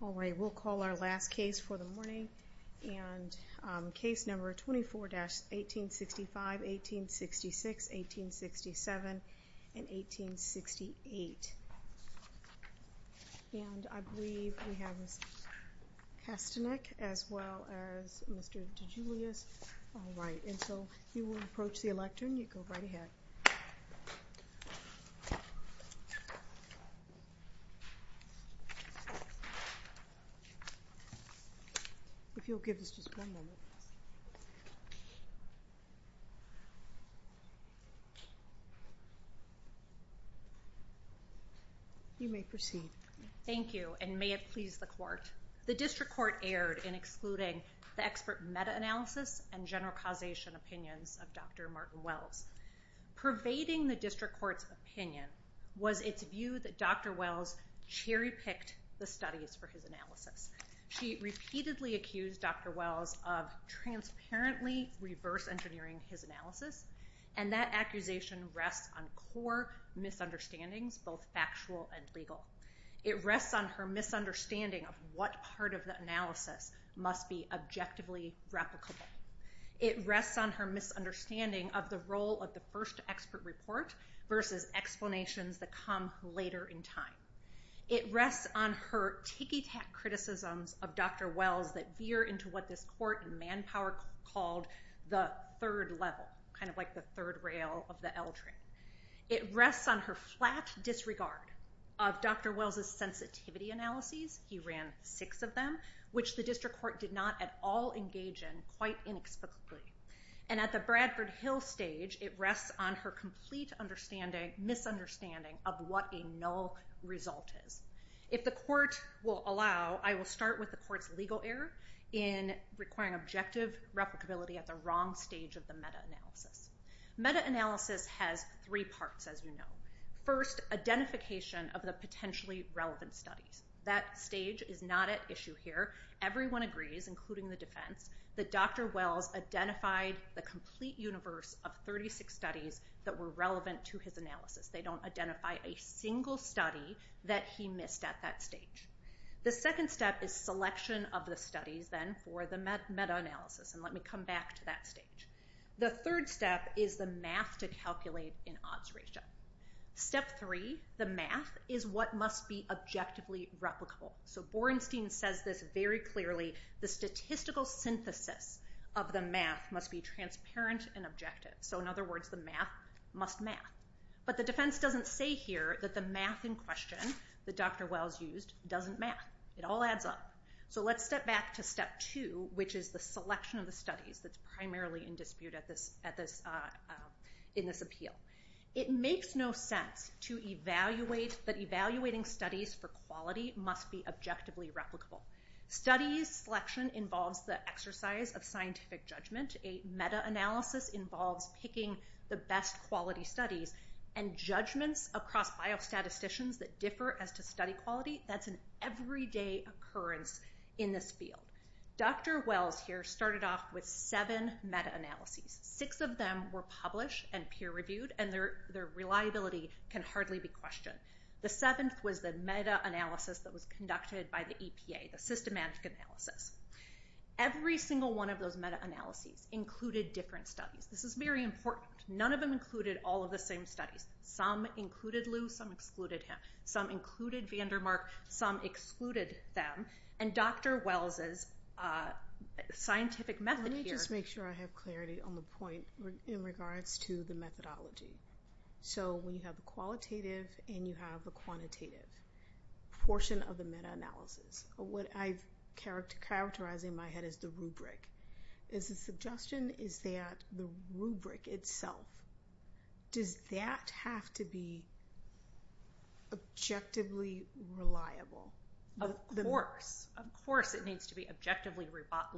All right, we'll call our last case for the morning, and case number 24-1865, 1866, 1867, and 1868. And I believe we have Mr. Kastanek as well as Mr. DeJulius. All right, and so you will approach the elector and you go right ahead. If you'll give us just one moment. You may proceed. Thank you, and may it please the court. The district court erred in excluding the expert meta-analysis and general causation opinions of Dr. Martin-Wells. Pervading the district court's opinion was its view that Dr. Wells cherry-picked the studies for his analysis. She repeatedly accused Dr. Wells of transparently reverse-engineering his analysis, and that accusation rests on core misunderstandings, both factual and legal. It rests on her misunderstanding of what part of the analysis must be objectively replicable. It rests on her misunderstanding of the role of the first expert report versus explanations that come later in time. It rests on her ticky-tack criticisms of Dr. Wells that veer into what this court in manpower called the third level, kind of like the third rail of the L train. It rests on her flat disregard of Dr. Wells' sensitivity analyses, he ran six of them, which the district court did not at all engage in quite inexplicably. And at the Bradford Hill stage, it rests on her complete misunderstanding of what a null result is. If the court will allow, I will start with the court's legal error in requiring objective replicability at the wrong stage of the meta-analysis. Meta-analysis has three parts, as you know. First, identification of the potentially relevant studies. That stage is not at issue here. Everyone agrees, including the defense, that Dr. Wells identified the complete universe of 36 studies that were relevant to his analysis. They don't identify a single study that he missed at that stage. The second step is selection of the studies, then, for the meta-analysis, and let me come back to that stage. The third step is the math to calculate in odds ratio. Step three, the math, is what must be objectively replicable. So Borenstein says this very clearly, the statistical synthesis of the math must be transparent and objective. So in other words, the math must math. But the defense doesn't say here that the math in question that Dr. Wells used doesn't math. It all adds up. So let's step back to step two, which is the selection of the studies that's primarily in dispute in this appeal. It makes no sense to evaluate that evaluating studies for quality must be objectively replicable. Studies selection involves the exercise of scientific judgment. A meta-analysis involves picking the best quality studies. And judgments across biostatisticians that differ as to study quality, that's an everyday occurrence in this field. Dr. Wells here started off with seven meta-analyses. Six of them were published and peer-reviewed, and their reliability can hardly be questioned. The seventh was the meta-analysis that was conducted by the EPA, the systematic analysis. Every single one of those meta-analyses included different studies. This is very important. None of them included all of the same studies. Some included Lew, some excluded him. Some included van der Mark, some excluded them. And Dr. Wells' scientific method here... Let me just make sure I have clarity on the point in regards to the methodology. So we have a qualitative and you have a quantitative portion of the meta-analysis. What I've characterized in my head is the rubric. The suggestion is that the rubric itself, does that have to be objectively reliable? Of course. Of course it needs to be objectively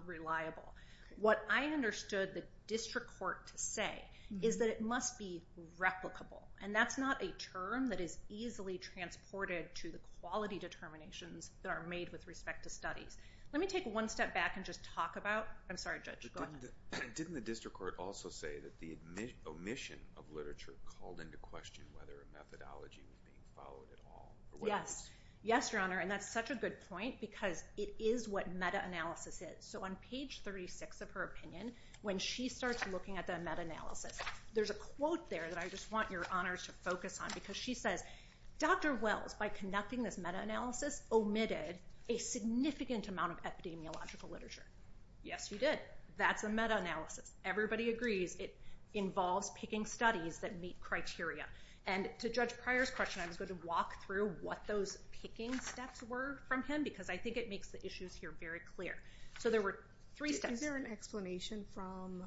reliable. What I understood the district court to say is that it must be replicable. And that's not a term that is easily transported to the quality determinations that are made with respect to studies. Let me take one step back and just talk about... I'm sorry, Judge. Go ahead. Didn't the district court also say that the omission of literature called into question whether a methodology was being followed at all? Yes. Yes, Your Honor. And that's such a good point because it is what meta-analysis is. So on page 36 of her opinion, when she starts looking at the meta-analysis, there's a quote there that I just want Your Honors to focus on because she says, Dr. Wells, by conducting this meta-analysis, omitted a significant amount of epidemiological literature. Yes, he did. That's a meta-analysis. Everybody agrees it involves picking studies that meet criteria. And to Judge Pryor's question, I was going to walk through what those picking steps were from him because I think it makes the issues here very clear. So there were three steps. Is there an explanation from...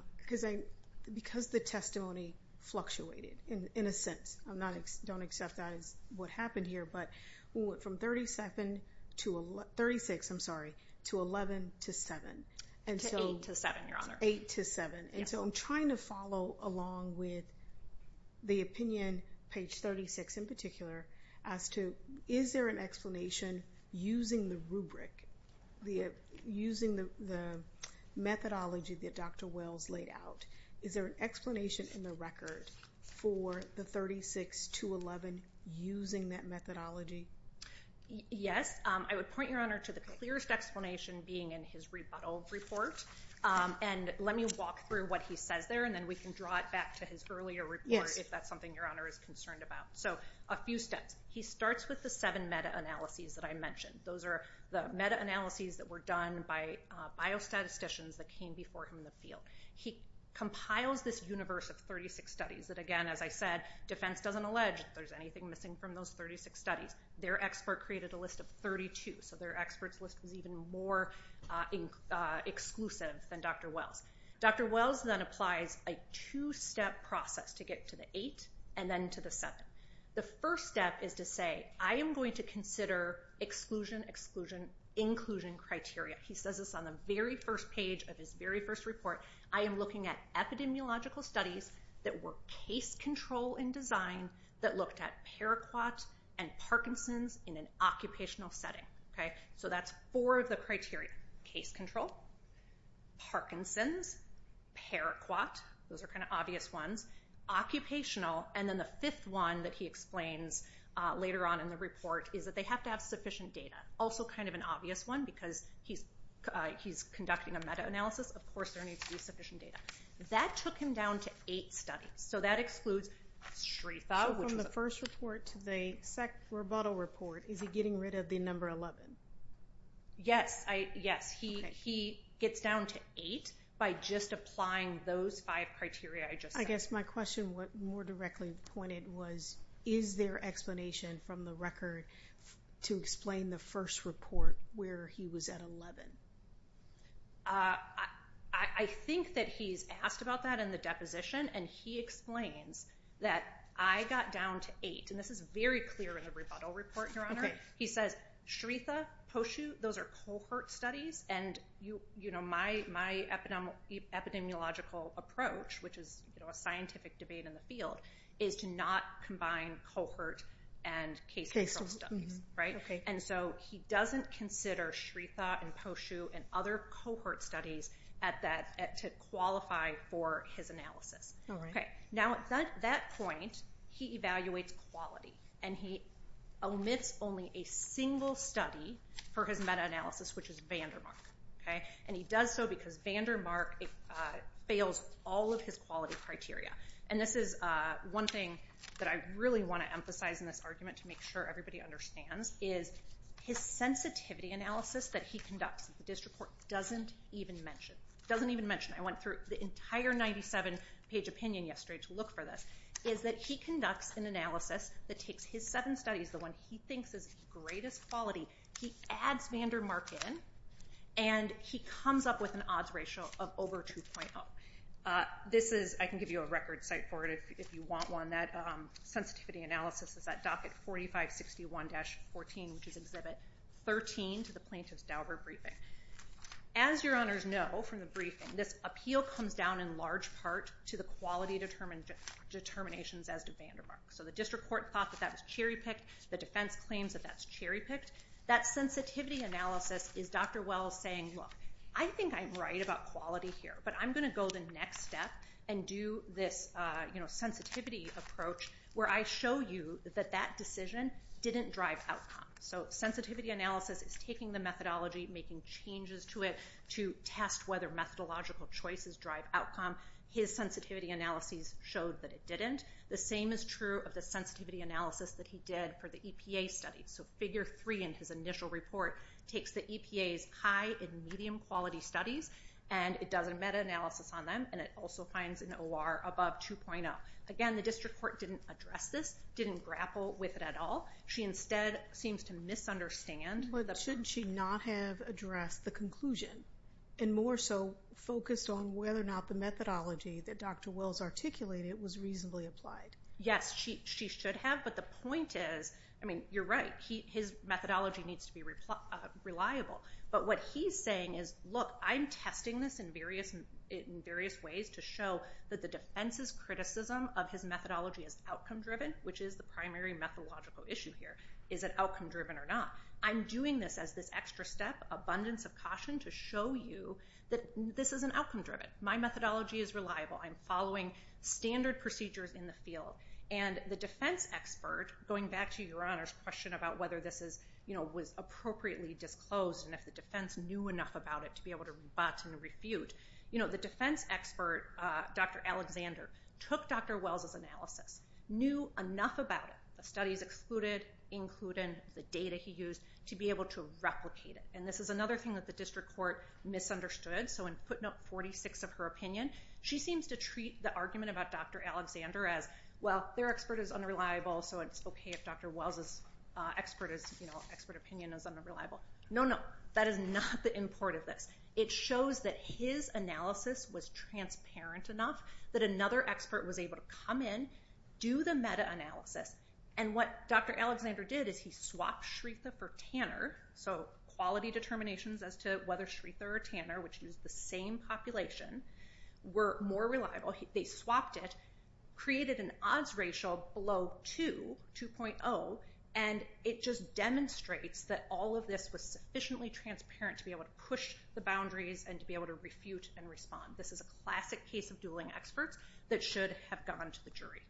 Because the testimony fluctuated in a sense. I don't accept that as what happened here, but from 36 to 11 to 7. To 8 to 7, Your Honor. 8 to 7. And so I'm trying to follow along with the opinion, page 36 in particular, as to is there an explanation using the rubric, using the methodology that Dr. Wells laid out? Is there an explanation in the record for the 36 to 11 using that methodology? Yes. I would point, Your Honor, to the clearest explanation being in his rebuttal report. And let me walk through what he says there, and then we can draw it back to his earlier report if that's something Your Honor is concerned about. So a few steps. He starts with the seven meta-analyses that I mentioned. Those are the meta-analyses that were done by biostatisticians that came before him in the field. He compiles this universe of 36 studies that, again, as I said, defense doesn't allege that there's anything missing from those 36 studies. Their expert created a list of 32, so their expert's list was even more exclusive than Dr. Wells'. Dr. Wells then applies a two-step process to get to the eight and then to the seven. The first step is to say, I am going to consider exclusion, exclusion, inclusion criteria. He says this on the very first page of his very first report. I am looking at epidemiological studies that were case-control in design, that looked at Paraquat and Parkinson's in an occupational setting. So that's four of the criteria, case-control, Parkinson's, Paraquat. Those are kind of obvious ones. Occupational, and then the fifth one that he explains later on in the report is that they have to have sufficient data, also kind of an obvious one because he's conducting a meta-analysis. Of course there needs to be sufficient data. That took him down to eight studies, so that excludes SRIFA. So from the first report to the second rebuttal report, is he getting rid of the number 11? Yes. He gets down to eight by just applying those five criteria I just said. I guess my question more directly pointed was, is there explanation from the record to explain the first report where he was at 11? I think that he's asked about that in the deposition, and he explains that I got down to eight, and this is very clear in the rebuttal report, Your Honor. He says SRIFA, POSU, those are cohort studies, and my epidemiological approach, which is a scientific debate in the field, is to not combine cohort and case-control studies. And so he doesn't consider SRIFA and POSU and other cohort studies to qualify for his analysis. Now at that point, he evaluates quality, and he omits only a single study for his meta-analysis, which is Vandermark. And he does so because Vandermark fails all of his quality criteria. And this is one thing that I really want to emphasize in this argument to make sure everybody understands, is his sensitivity analysis that he conducts, the district court doesn't even mention, I went through the entire 97-page opinion yesterday to look for this, is that he conducts an analysis that takes his seven studies, the one he thinks is greatest quality, he adds Vandermark in, and he comes up with an odds ratio of over 2.0. This is, I can give you a record cite for it if you want one, that sensitivity analysis is at docket 4561-14, which is exhibit 13 to the plaintiff's Dauber briefing. As your honors know from the briefing, this appeal comes down in large part to the quality determinations as to Vandermark. So the district court thought that that was cherry-picked, the defense claims that that's cherry-picked. That sensitivity analysis is Dr. Wells saying, look, I think I'm right about quality here, but I'm going to go the next step and do this sensitivity approach where I show you that that decision didn't drive outcome. So sensitivity analysis is taking the methodology, making changes to it to test whether methodological choices drive outcome. His sensitivity analyses showed that it didn't. The same is true of the sensitivity analysis that he did for the EPA study. So figure three in his initial report takes the EPA's high and medium quality studies, and it does a meta-analysis on them, and it also finds an OR above 2.0. Again, the district court didn't address this, didn't grapple with it at all. She instead seems to misunderstand. But shouldn't she not have addressed the conclusion and more so focused on whether or not the methodology that Dr. Wells articulated was reasonably applied? Yes, she should have, but the point is, I mean, you're right. His methodology needs to be reliable. But what he's saying is, look, I'm testing this in various ways to show that the defense's criticism of his methodology is outcome-driven, which is the primary methodological issue here. Is it outcome-driven or not? I'm doing this as this extra step, abundance of caution, to show you that this isn't outcome-driven. My methodology is reliable. I'm following standard procedures in the field. And the defense expert, going back to Your Honor's question about whether this was appropriately disclosed and if the defense knew enough about it to be able to rebut and refute, the defense expert, Dr. Alexander, took Dr. Wells' analysis, knew enough about it, the studies excluded, included, the data he used, to be able to replicate it. And this is another thing that the district court misunderstood. So in footnote 46 of her opinion, she seems to treat the argument about Dr. Alexander as, well, their expert is unreliable, so it's okay if Dr. Wells' expert opinion is unreliable. No, no, that is not the import of this. It shows that his analysis was transparent enough that another expert was able to come in, do the meta-analysis, and what Dr. Alexander did is he swapped Shretha for Tanner, so quality determinations as to whether Shretha or Tanner, which used the same population, were more reliable. They swapped it, created an odds ratio below 2, 2.0, and it just demonstrates that all of this was sufficiently transparent to be able to push the boundaries and to be able to refute and respond. This is a classic case of dueling experts that should have gone to the jury.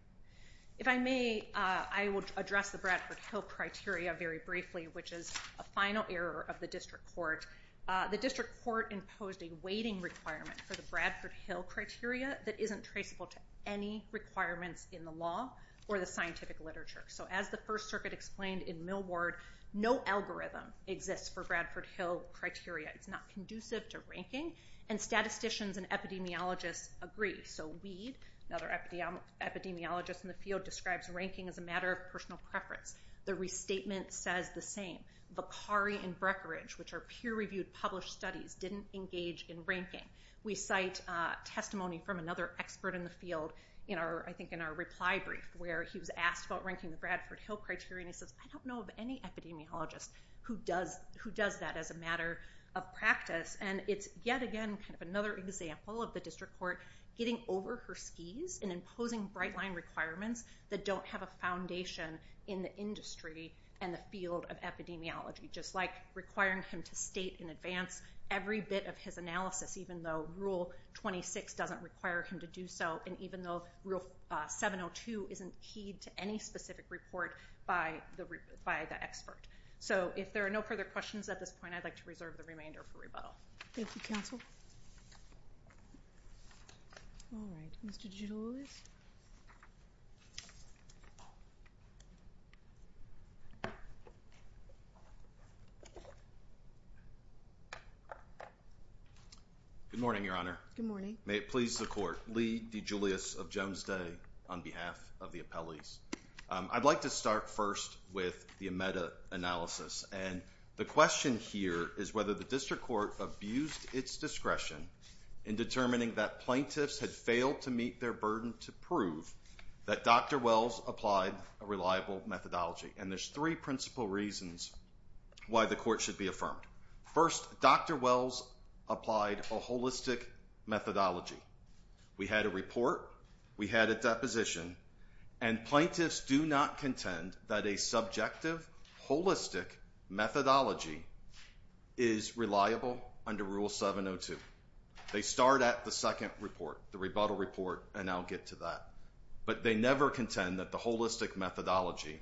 If I may, I will address the Bradford Hill criteria very briefly, which is a final error of the district court. The district court imposed a weighting requirement for the Bradford Hill criteria that isn't traceable to any requirements in the law or the scientific literature. So as the First Circuit explained in Millward, no algorithm exists for Bradford Hill criteria. It's not conducive to ranking, and statisticians and epidemiologists agree. So Weed, another epidemiologist in the field, describes ranking as a matter of personal preference. The restatement says the same. Vacari and Brekkeridge, which are peer-reviewed published studies, didn't engage in ranking. We cite testimony from another expert in the field, I think in our reply brief, where he was asked about ranking the Bradford Hill criteria, and he says, I don't know of any epidemiologist who does that as a matter of practice. And it's yet again kind of another example of the district court getting over her skis and imposing bright-line requirements that don't have a foundation in the industry and the field of epidemiology, just like requiring him to state in advance every bit of his analysis, even though Rule 26 doesn't require him to do so, and even though Rule 702 isn't keyed to any specific report by the expert. So if there are no further questions at this point, I'd like to reserve the remainder for rebuttal. Thank you, counsel. All right. Mr. DeGiulis. Good morning, Your Honor. Good morning. May it please the Court. Lee DeGiulis of Jones Day on behalf of the appellees. I'd like to start first with the Amedda analysis, and the question here is whether the district court abused its discretion in determining that plaintiffs had failed to meet their burden to prove that Dr. Wells applied a reliable methodology. And there's three principal reasons why the court should be affirmed. First, Dr. Wells applied a holistic methodology. We had a report. We had a deposition. And plaintiffs do not contend that a subjective, holistic methodology is reliable under Rule 702. They start at the second report, the rebuttal report, and I'll get to that. But they never contend that the holistic methodology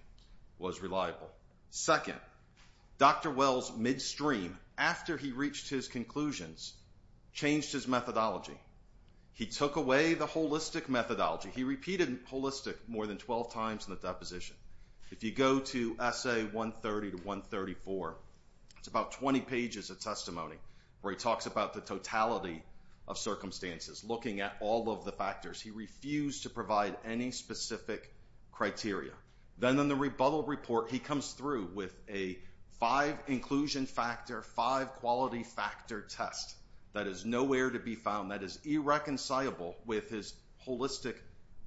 was reliable. Second, Dr. Wells midstream, after he reached his conclusions, changed his methodology. He took away the holistic methodology. He repeated holistic more than 12 times in the deposition. If you go to Essay 130 to 134, it's about 20 pages of testimony where he talks about the totality of circumstances, looking at all of the factors. He refused to provide any specific criteria. Then in the rebuttal report, he comes through with a five-inclusion factor, five-quality factor test that is nowhere to be found, that is irreconcilable with his holistic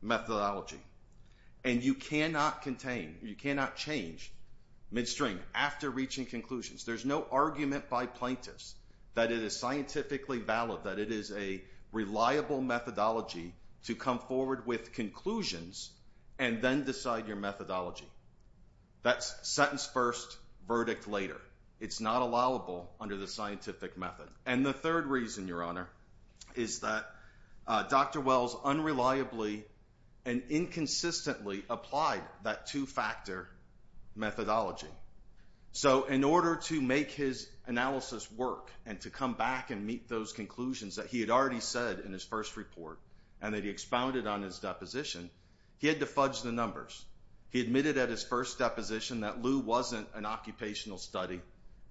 methodology. And you cannot contain, you cannot change midstream after reaching conclusions. There's no argument by plaintiffs that it is scientifically valid, that it is a reliable methodology to come forward with conclusions and then decide your methodology. That's sentence first, verdict later. It's not allowable under the scientific method. And the third reason, Your Honor, is that Dr. Wells unreliably and inconsistently applied that two-factor methodology. So in order to make his analysis work and to come back and meet those conclusions that he had already said in his first report and that he expounded on his deposition, he had to fudge the numbers. He admitted at his first deposition that Lew wasn't an occupational study,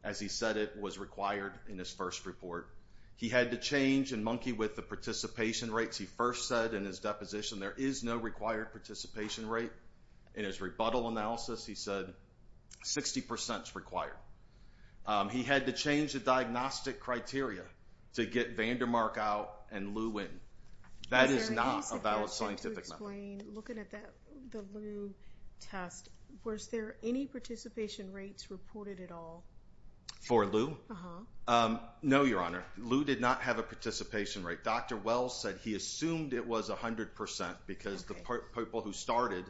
as he said it was required in his first report. He had to change and monkey with the participation rates. He first said in his deposition there is no required participation rate. In his rebuttal analysis, he said 60% is required. He had to change the diagnostic criteria to get Vandermark out and Lew in. That is not a valid scientific method. Looking at the Lew test, was there any participation rates reported at all? For Lew? Uh-huh. No, Your Honor. Lew did not have a participation rate. Dr. Wells said he assumed it was 100% because the people who started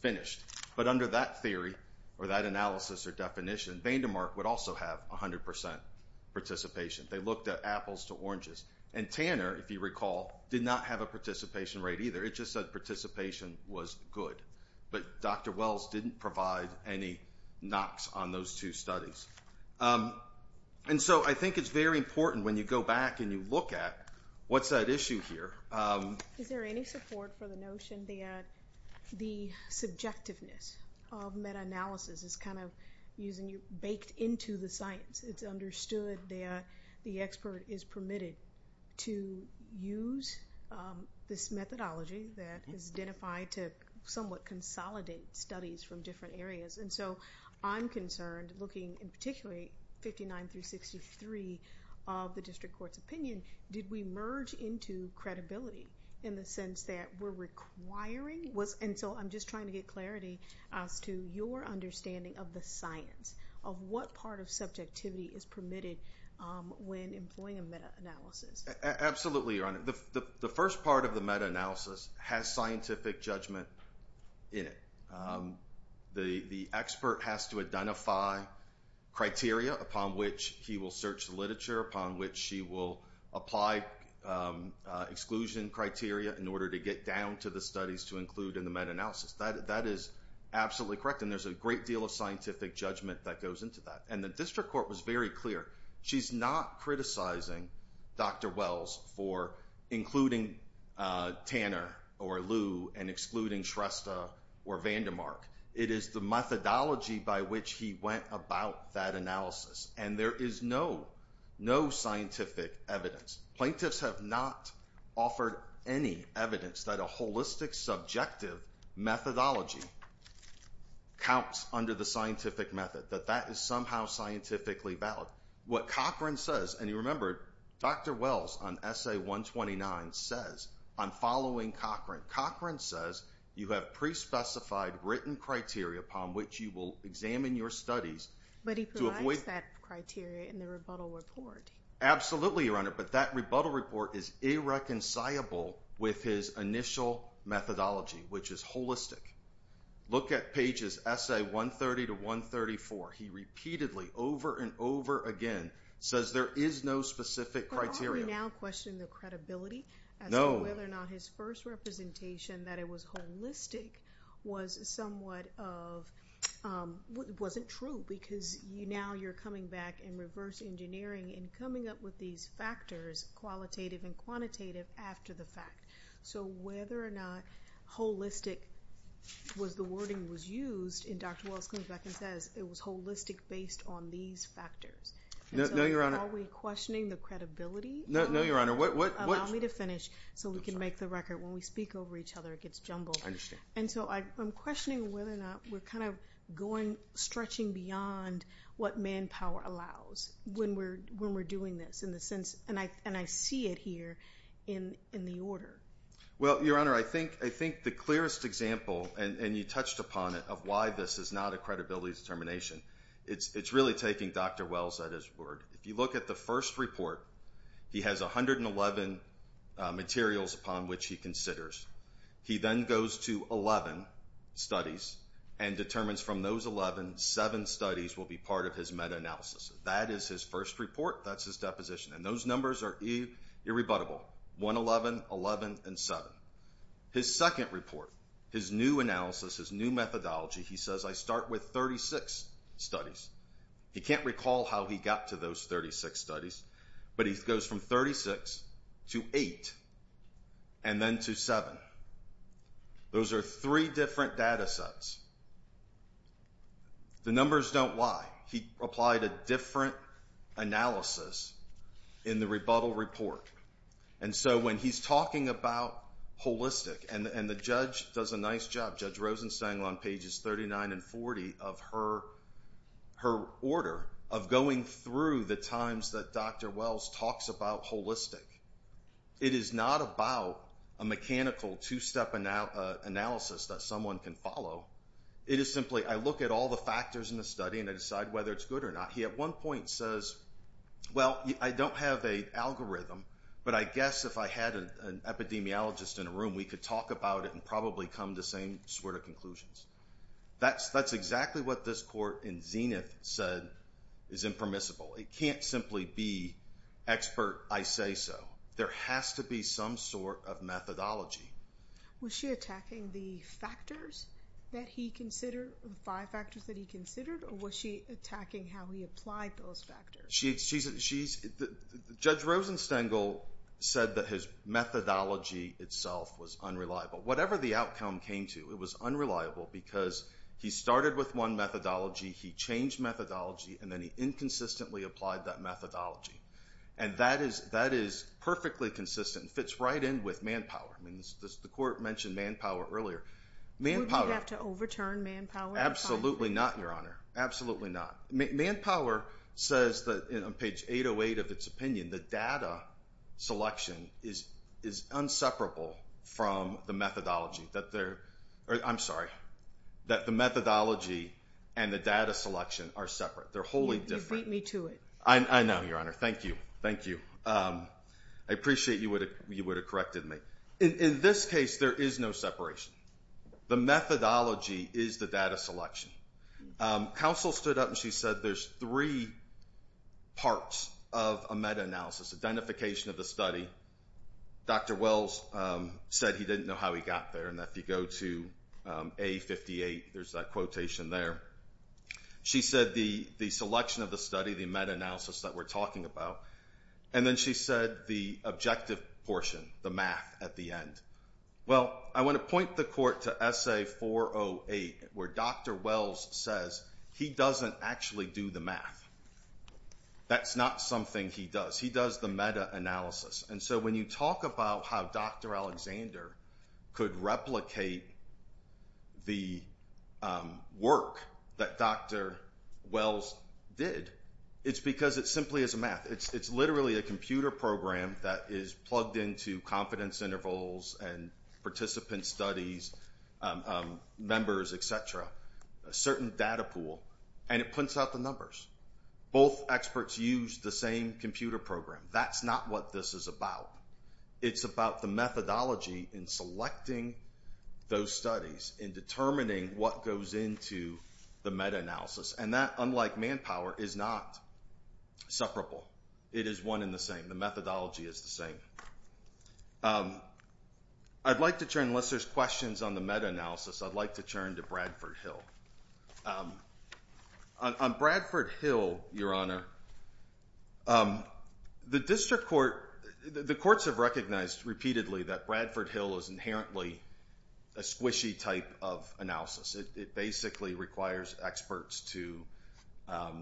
finished. But under that theory or that analysis or definition, Vandermark would also have 100% participation. They looked at apples to oranges. And Tanner, if you recall, did not have a participation rate either. It just said participation was good. But Dr. Wells didn't provide any knocks on those two studies. And so I think it's very important when you go back and you look at what's that issue here. Is there any support for the notion that the subjectiveness of meta-analysis is kind of baked into the science? It's understood that the expert is permitted to use this methodology that is identified to somewhat consolidate studies from different areas. And so I'm concerned, looking in particularly 59 through 63 of the district court's opinion, did we merge into credibility in the sense that we're requiring? And so I'm just trying to get clarity as to your understanding of the science, of what part of subjectivity is permitted when employing a meta-analysis. Absolutely, Your Honor. The first part of the meta-analysis has scientific judgment in it. The expert has to identify criteria upon which he will search the literature, upon which he will apply exclusion criteria in order to get down to the studies to include in the meta-analysis. That is absolutely correct. And there's a great deal of scientific judgment that goes into that. And the district court was very clear. She's not criticizing Dr. Wells for including Tanner or Lew and excluding Shrestha or Vandermark. It is the methodology by which he went about that analysis. And there is no scientific evidence. Plaintiffs have not offered any evidence that a holistic, subjective methodology counts under the scientific method, that that is somehow scientifically valid. What Cochran says, and you remember, Dr. Wells on Essay 129 says I'm following Cochran. Cochran says you have pre-specified written criteria upon which you will examine your studies. But he provides that criteria in the rebuttal report. Absolutely, Your Honor, but that rebuttal report is irreconcilable with his initial methodology, which is holistic. Look at pages Essay 130 to 134. He repeatedly, over and over again, says there is no specific criteria. But aren't we now questioning the credibility as to whether or not his first representation, that it was holistic, was somewhat of, wasn't true because now you're coming back in reverse engineering and coming up with these factors, qualitative and quantitative, after the fact. So whether or not holistic was the wording was used, and Dr. Wells comes back and says it was holistic based on these factors. No, Your Honor. So are we questioning the credibility? No, Your Honor. Allow me to finish so we can make the record. When we speak over each other, it gets jumbled. I understand. And so I'm questioning whether or not we're kind of going, stretching beyond what manpower allows when we're doing this. And I see it here in the order. Well, Your Honor, I think the clearest example, and you touched upon it, of why this is not a credibility determination, it's really taking Dr. Wells at his word. If you look at the first report, he has 111 materials upon which he considers. He then goes to 11 studies and determines from those 11, 7 studies will be part of his meta-analysis. That is his first report. That's his deposition. And those numbers are irrebuttable, 111, 11, and 7. His second report, his new analysis, his new methodology, he says, I start with 36 studies. He can't recall how he got to those 36 studies, but he goes from 36 to 8 and then to 7. Those are three different data sets. The numbers don't lie. He applied a different analysis in the rebuttal report. And so when he's talking about holistic, and the judge does a nice job, Judge Rosenstein, on pages 39 and 40 of her order of going through the times that Dr. Wells talks about holistic, it is not about a mechanical two-step analysis that someone can follow. It is simply, I look at all the factors in the study and I decide whether it's good or not. He at one point says, well, I don't have a algorithm, but I guess if I had an epidemiologist in a room, we could talk about it and probably come to the same sort of conclusions. That's exactly what this court in Zenith said is impermissible. It can't simply be expert, I say so. There has to be some sort of methodology. Was she attacking the factors that he considered, the five factors that he considered, or was she attacking how he applied those factors? Judge Rosenstein said that his methodology itself was unreliable. Whatever the outcome came to, it was unreliable because he started with one methodology, he changed methodology, and then he inconsistently applied that methodology. And that is perfectly consistent and fits right in with manpower. The court mentioned manpower earlier. Wouldn't you have to overturn manpower? Absolutely not, Your Honor. Absolutely not. Manpower says on page 808 of its opinion, the data selection is inseparable from the methodology. I'm sorry, that the methodology and the data selection are separate. They're wholly different. You beat me to it. I know, Your Honor. Thank you. Thank you. I appreciate you would have corrected me. In this case, there is no separation. The methodology is the data selection. Counsel stood up and she said there's three parts of a meta-analysis, identification of the study. Dr. Wells said he didn't know how he got there, and if you go to A58, there's that quotation there. She said the selection of the study, the meta-analysis that we're talking about, and then she said the objective portion, the math at the end. Well, I want to point the court to Essay 408 where Dr. Wells says he doesn't actually do the math. That's not something he does. He does the meta-analysis. And so when you talk about how Dr. Alexander could replicate the work that Dr. Wells did, it's because it simply is a math. It's literally a computer program that is plugged into confidence intervals and participant studies, members, et cetera, a certain data pool, and it prints out the numbers. Both experts use the same computer program. That's not what this is about. It's about the methodology in selecting those studies, in determining what goes into the meta-analysis, and that, unlike manpower, is not separable. It is one and the same. The methodology is the same. Unless there's questions on the meta-analysis, I'd like to turn to Bradford Hill. On Bradford Hill, Your Honor, the courts have recognized repeatedly that Bradford Hill is inherently a squishy type of analysis. It basically requires experts to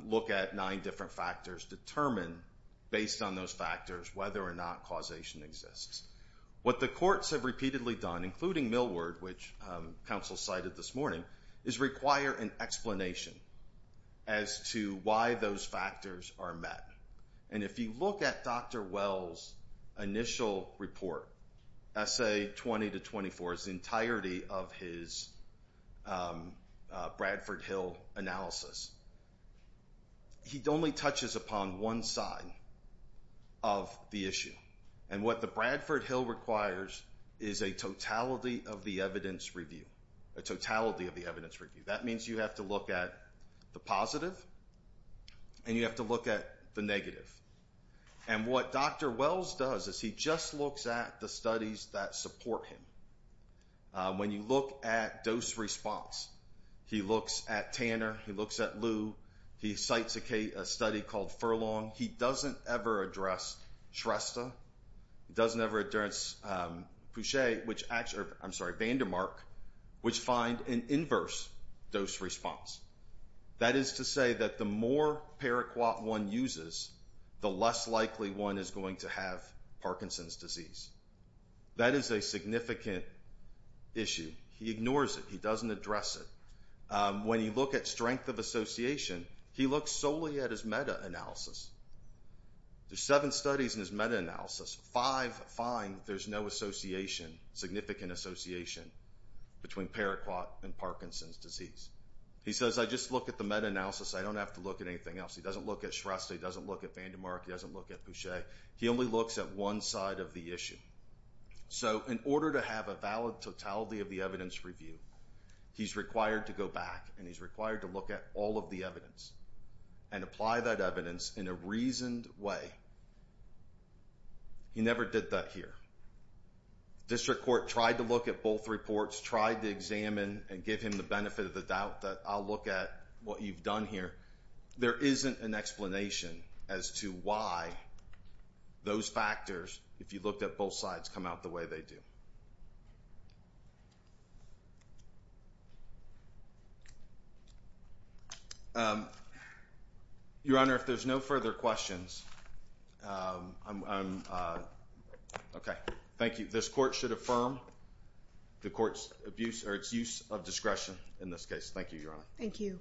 look at nine different factors, determine, based on those factors, whether or not causation exists. What the courts have repeatedly done, including Millward, which counsel cited this morning, is require an explanation as to why those factors are met. If you look at Dr. Wells' initial report, Essay 20-24, the entirety of his Bradford Hill analysis, he only touches upon one side of the issue. What the Bradford Hill requires is a totality of the evidence review. A totality of the evidence review. That means you have to look at the positive and you have to look at the negative. And what Dr. Wells does is he just looks at the studies that support him. When you look at dose response, he looks at Tanner, he looks at Lew, he cites a study called Furlong. He doesn't ever address Shrestha. He doesn't ever address Vandermark, which find an inverse dose response. That is to say that the more Paraquat-1 uses, the less likely one is going to have Parkinson's disease. That is a significant issue. He ignores it. He doesn't address it. When you look at strength of association, he looks solely at his meta-analysis. There's seven studies in his meta-analysis. Five find there's no association, significant association, between Paraquat and Parkinson's disease. He says, I just look at the meta-analysis. I don't have to look at anything else. He doesn't look at Shrestha. He doesn't look at Vandermark. He doesn't look at Boucher. He only looks at one side of the issue. So in order to have a valid totality of the evidence review, he's required to go back, and he's required to look at all of the evidence and apply that evidence in a reasoned way. He never did that here. District Court tried to look at both reports, tried to examine and give him the benefit of the doubt that I'll look at what you've done here. There isn't an explanation as to why those factors, if you looked at both sides, come out the way they do. Your Honor, if there's no further questions, I'm OK. Thank you. This court should affirm the court's abuse or its use of discretion in this case. Thank you, Your Honor. Thank you.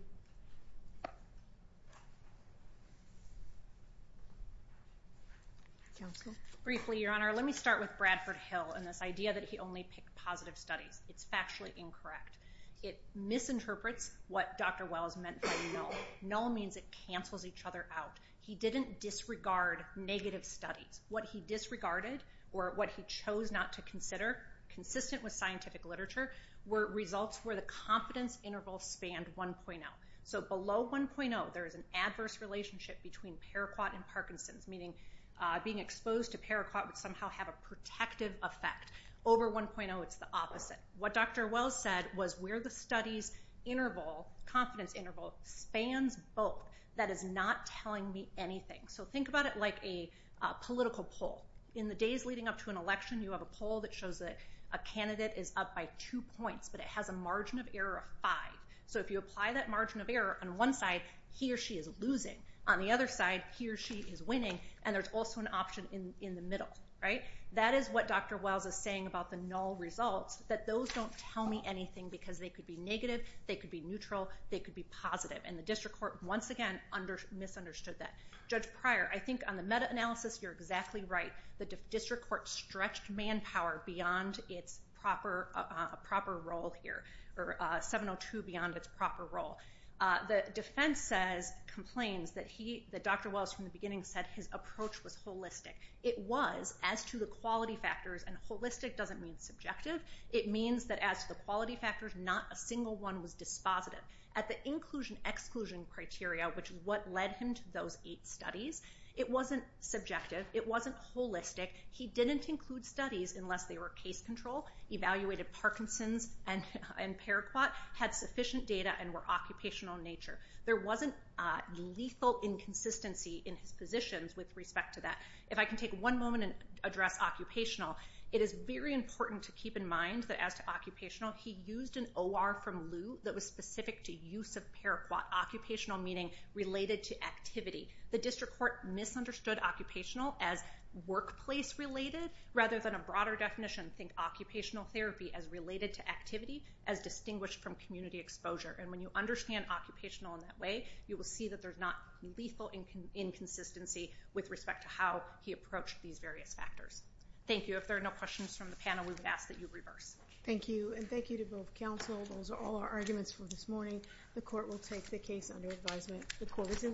Briefly, Your Honor, let me start with Bradford Hill and this idea that he only picked positive studies. It's factually incorrect. It misinterprets what Dr. Wells meant by null. Null means it cancels each other out. He didn't disregard negative studies. What he disregarded or what he chose not to consider, consistent with scientific literature, were results where the confidence interval spanned 1.0. So below 1.0, there is an adverse relationship between Paraquat and Parkinson's, meaning being exposed to Paraquat would somehow have a protective effect. Over 1.0, it's the opposite. What Dr. Wells said was where the studies interval, confidence interval, spans both. That is not telling me anything. So think about it like a political poll. In the days leading up to an election, you have a poll that shows that a candidate is up by two points, but it has a margin of error of five. So if you apply that margin of error on one side, he or she is losing. On the other side, he or she is winning, and there's also an option in the middle. That is what Dr. Wells is saying about the null results, that those don't tell me anything because they could be negative, they could be neutral, they could be positive. And the district court, once again, misunderstood that. Judge Pryor, I think on the meta-analysis you're exactly right. The district court stretched manpower beyond its proper role here, or 702 beyond its proper role. The defense says, complains, that Dr. Wells from the beginning said his approach was holistic. It was as to the quality factors, and holistic doesn't mean subjective. It means that as to the quality factors, not a single one was dispositive. At the inclusion-exclusion criteria, which is what led him to those eight studies, it wasn't subjective, it wasn't holistic. He didn't include studies unless they were case control, evaluated Parkinson's and Paraquat, had sufficient data, and were occupational in nature. There wasn't lethal inconsistency in his positions with respect to that. If I can take one moment and address occupational, it is very important to keep in mind that as to occupational, he used an OR from Lew that was specific to use of Paraquat. Occupational meaning related to activity. The district court misunderstood occupational as workplace-related, rather than a broader definition, think occupational therapy as related to activity, as distinguished from community exposure. And when you understand occupational in that way, you will see that there's not lethal inconsistency with respect to how he approached these various factors. Thank you. If there are no questions from the panel, we would ask that you reverse. Thank you, and thank you to both counsel. Those are all our arguments for this morning. The court will take the case under advisement. The court is in recess.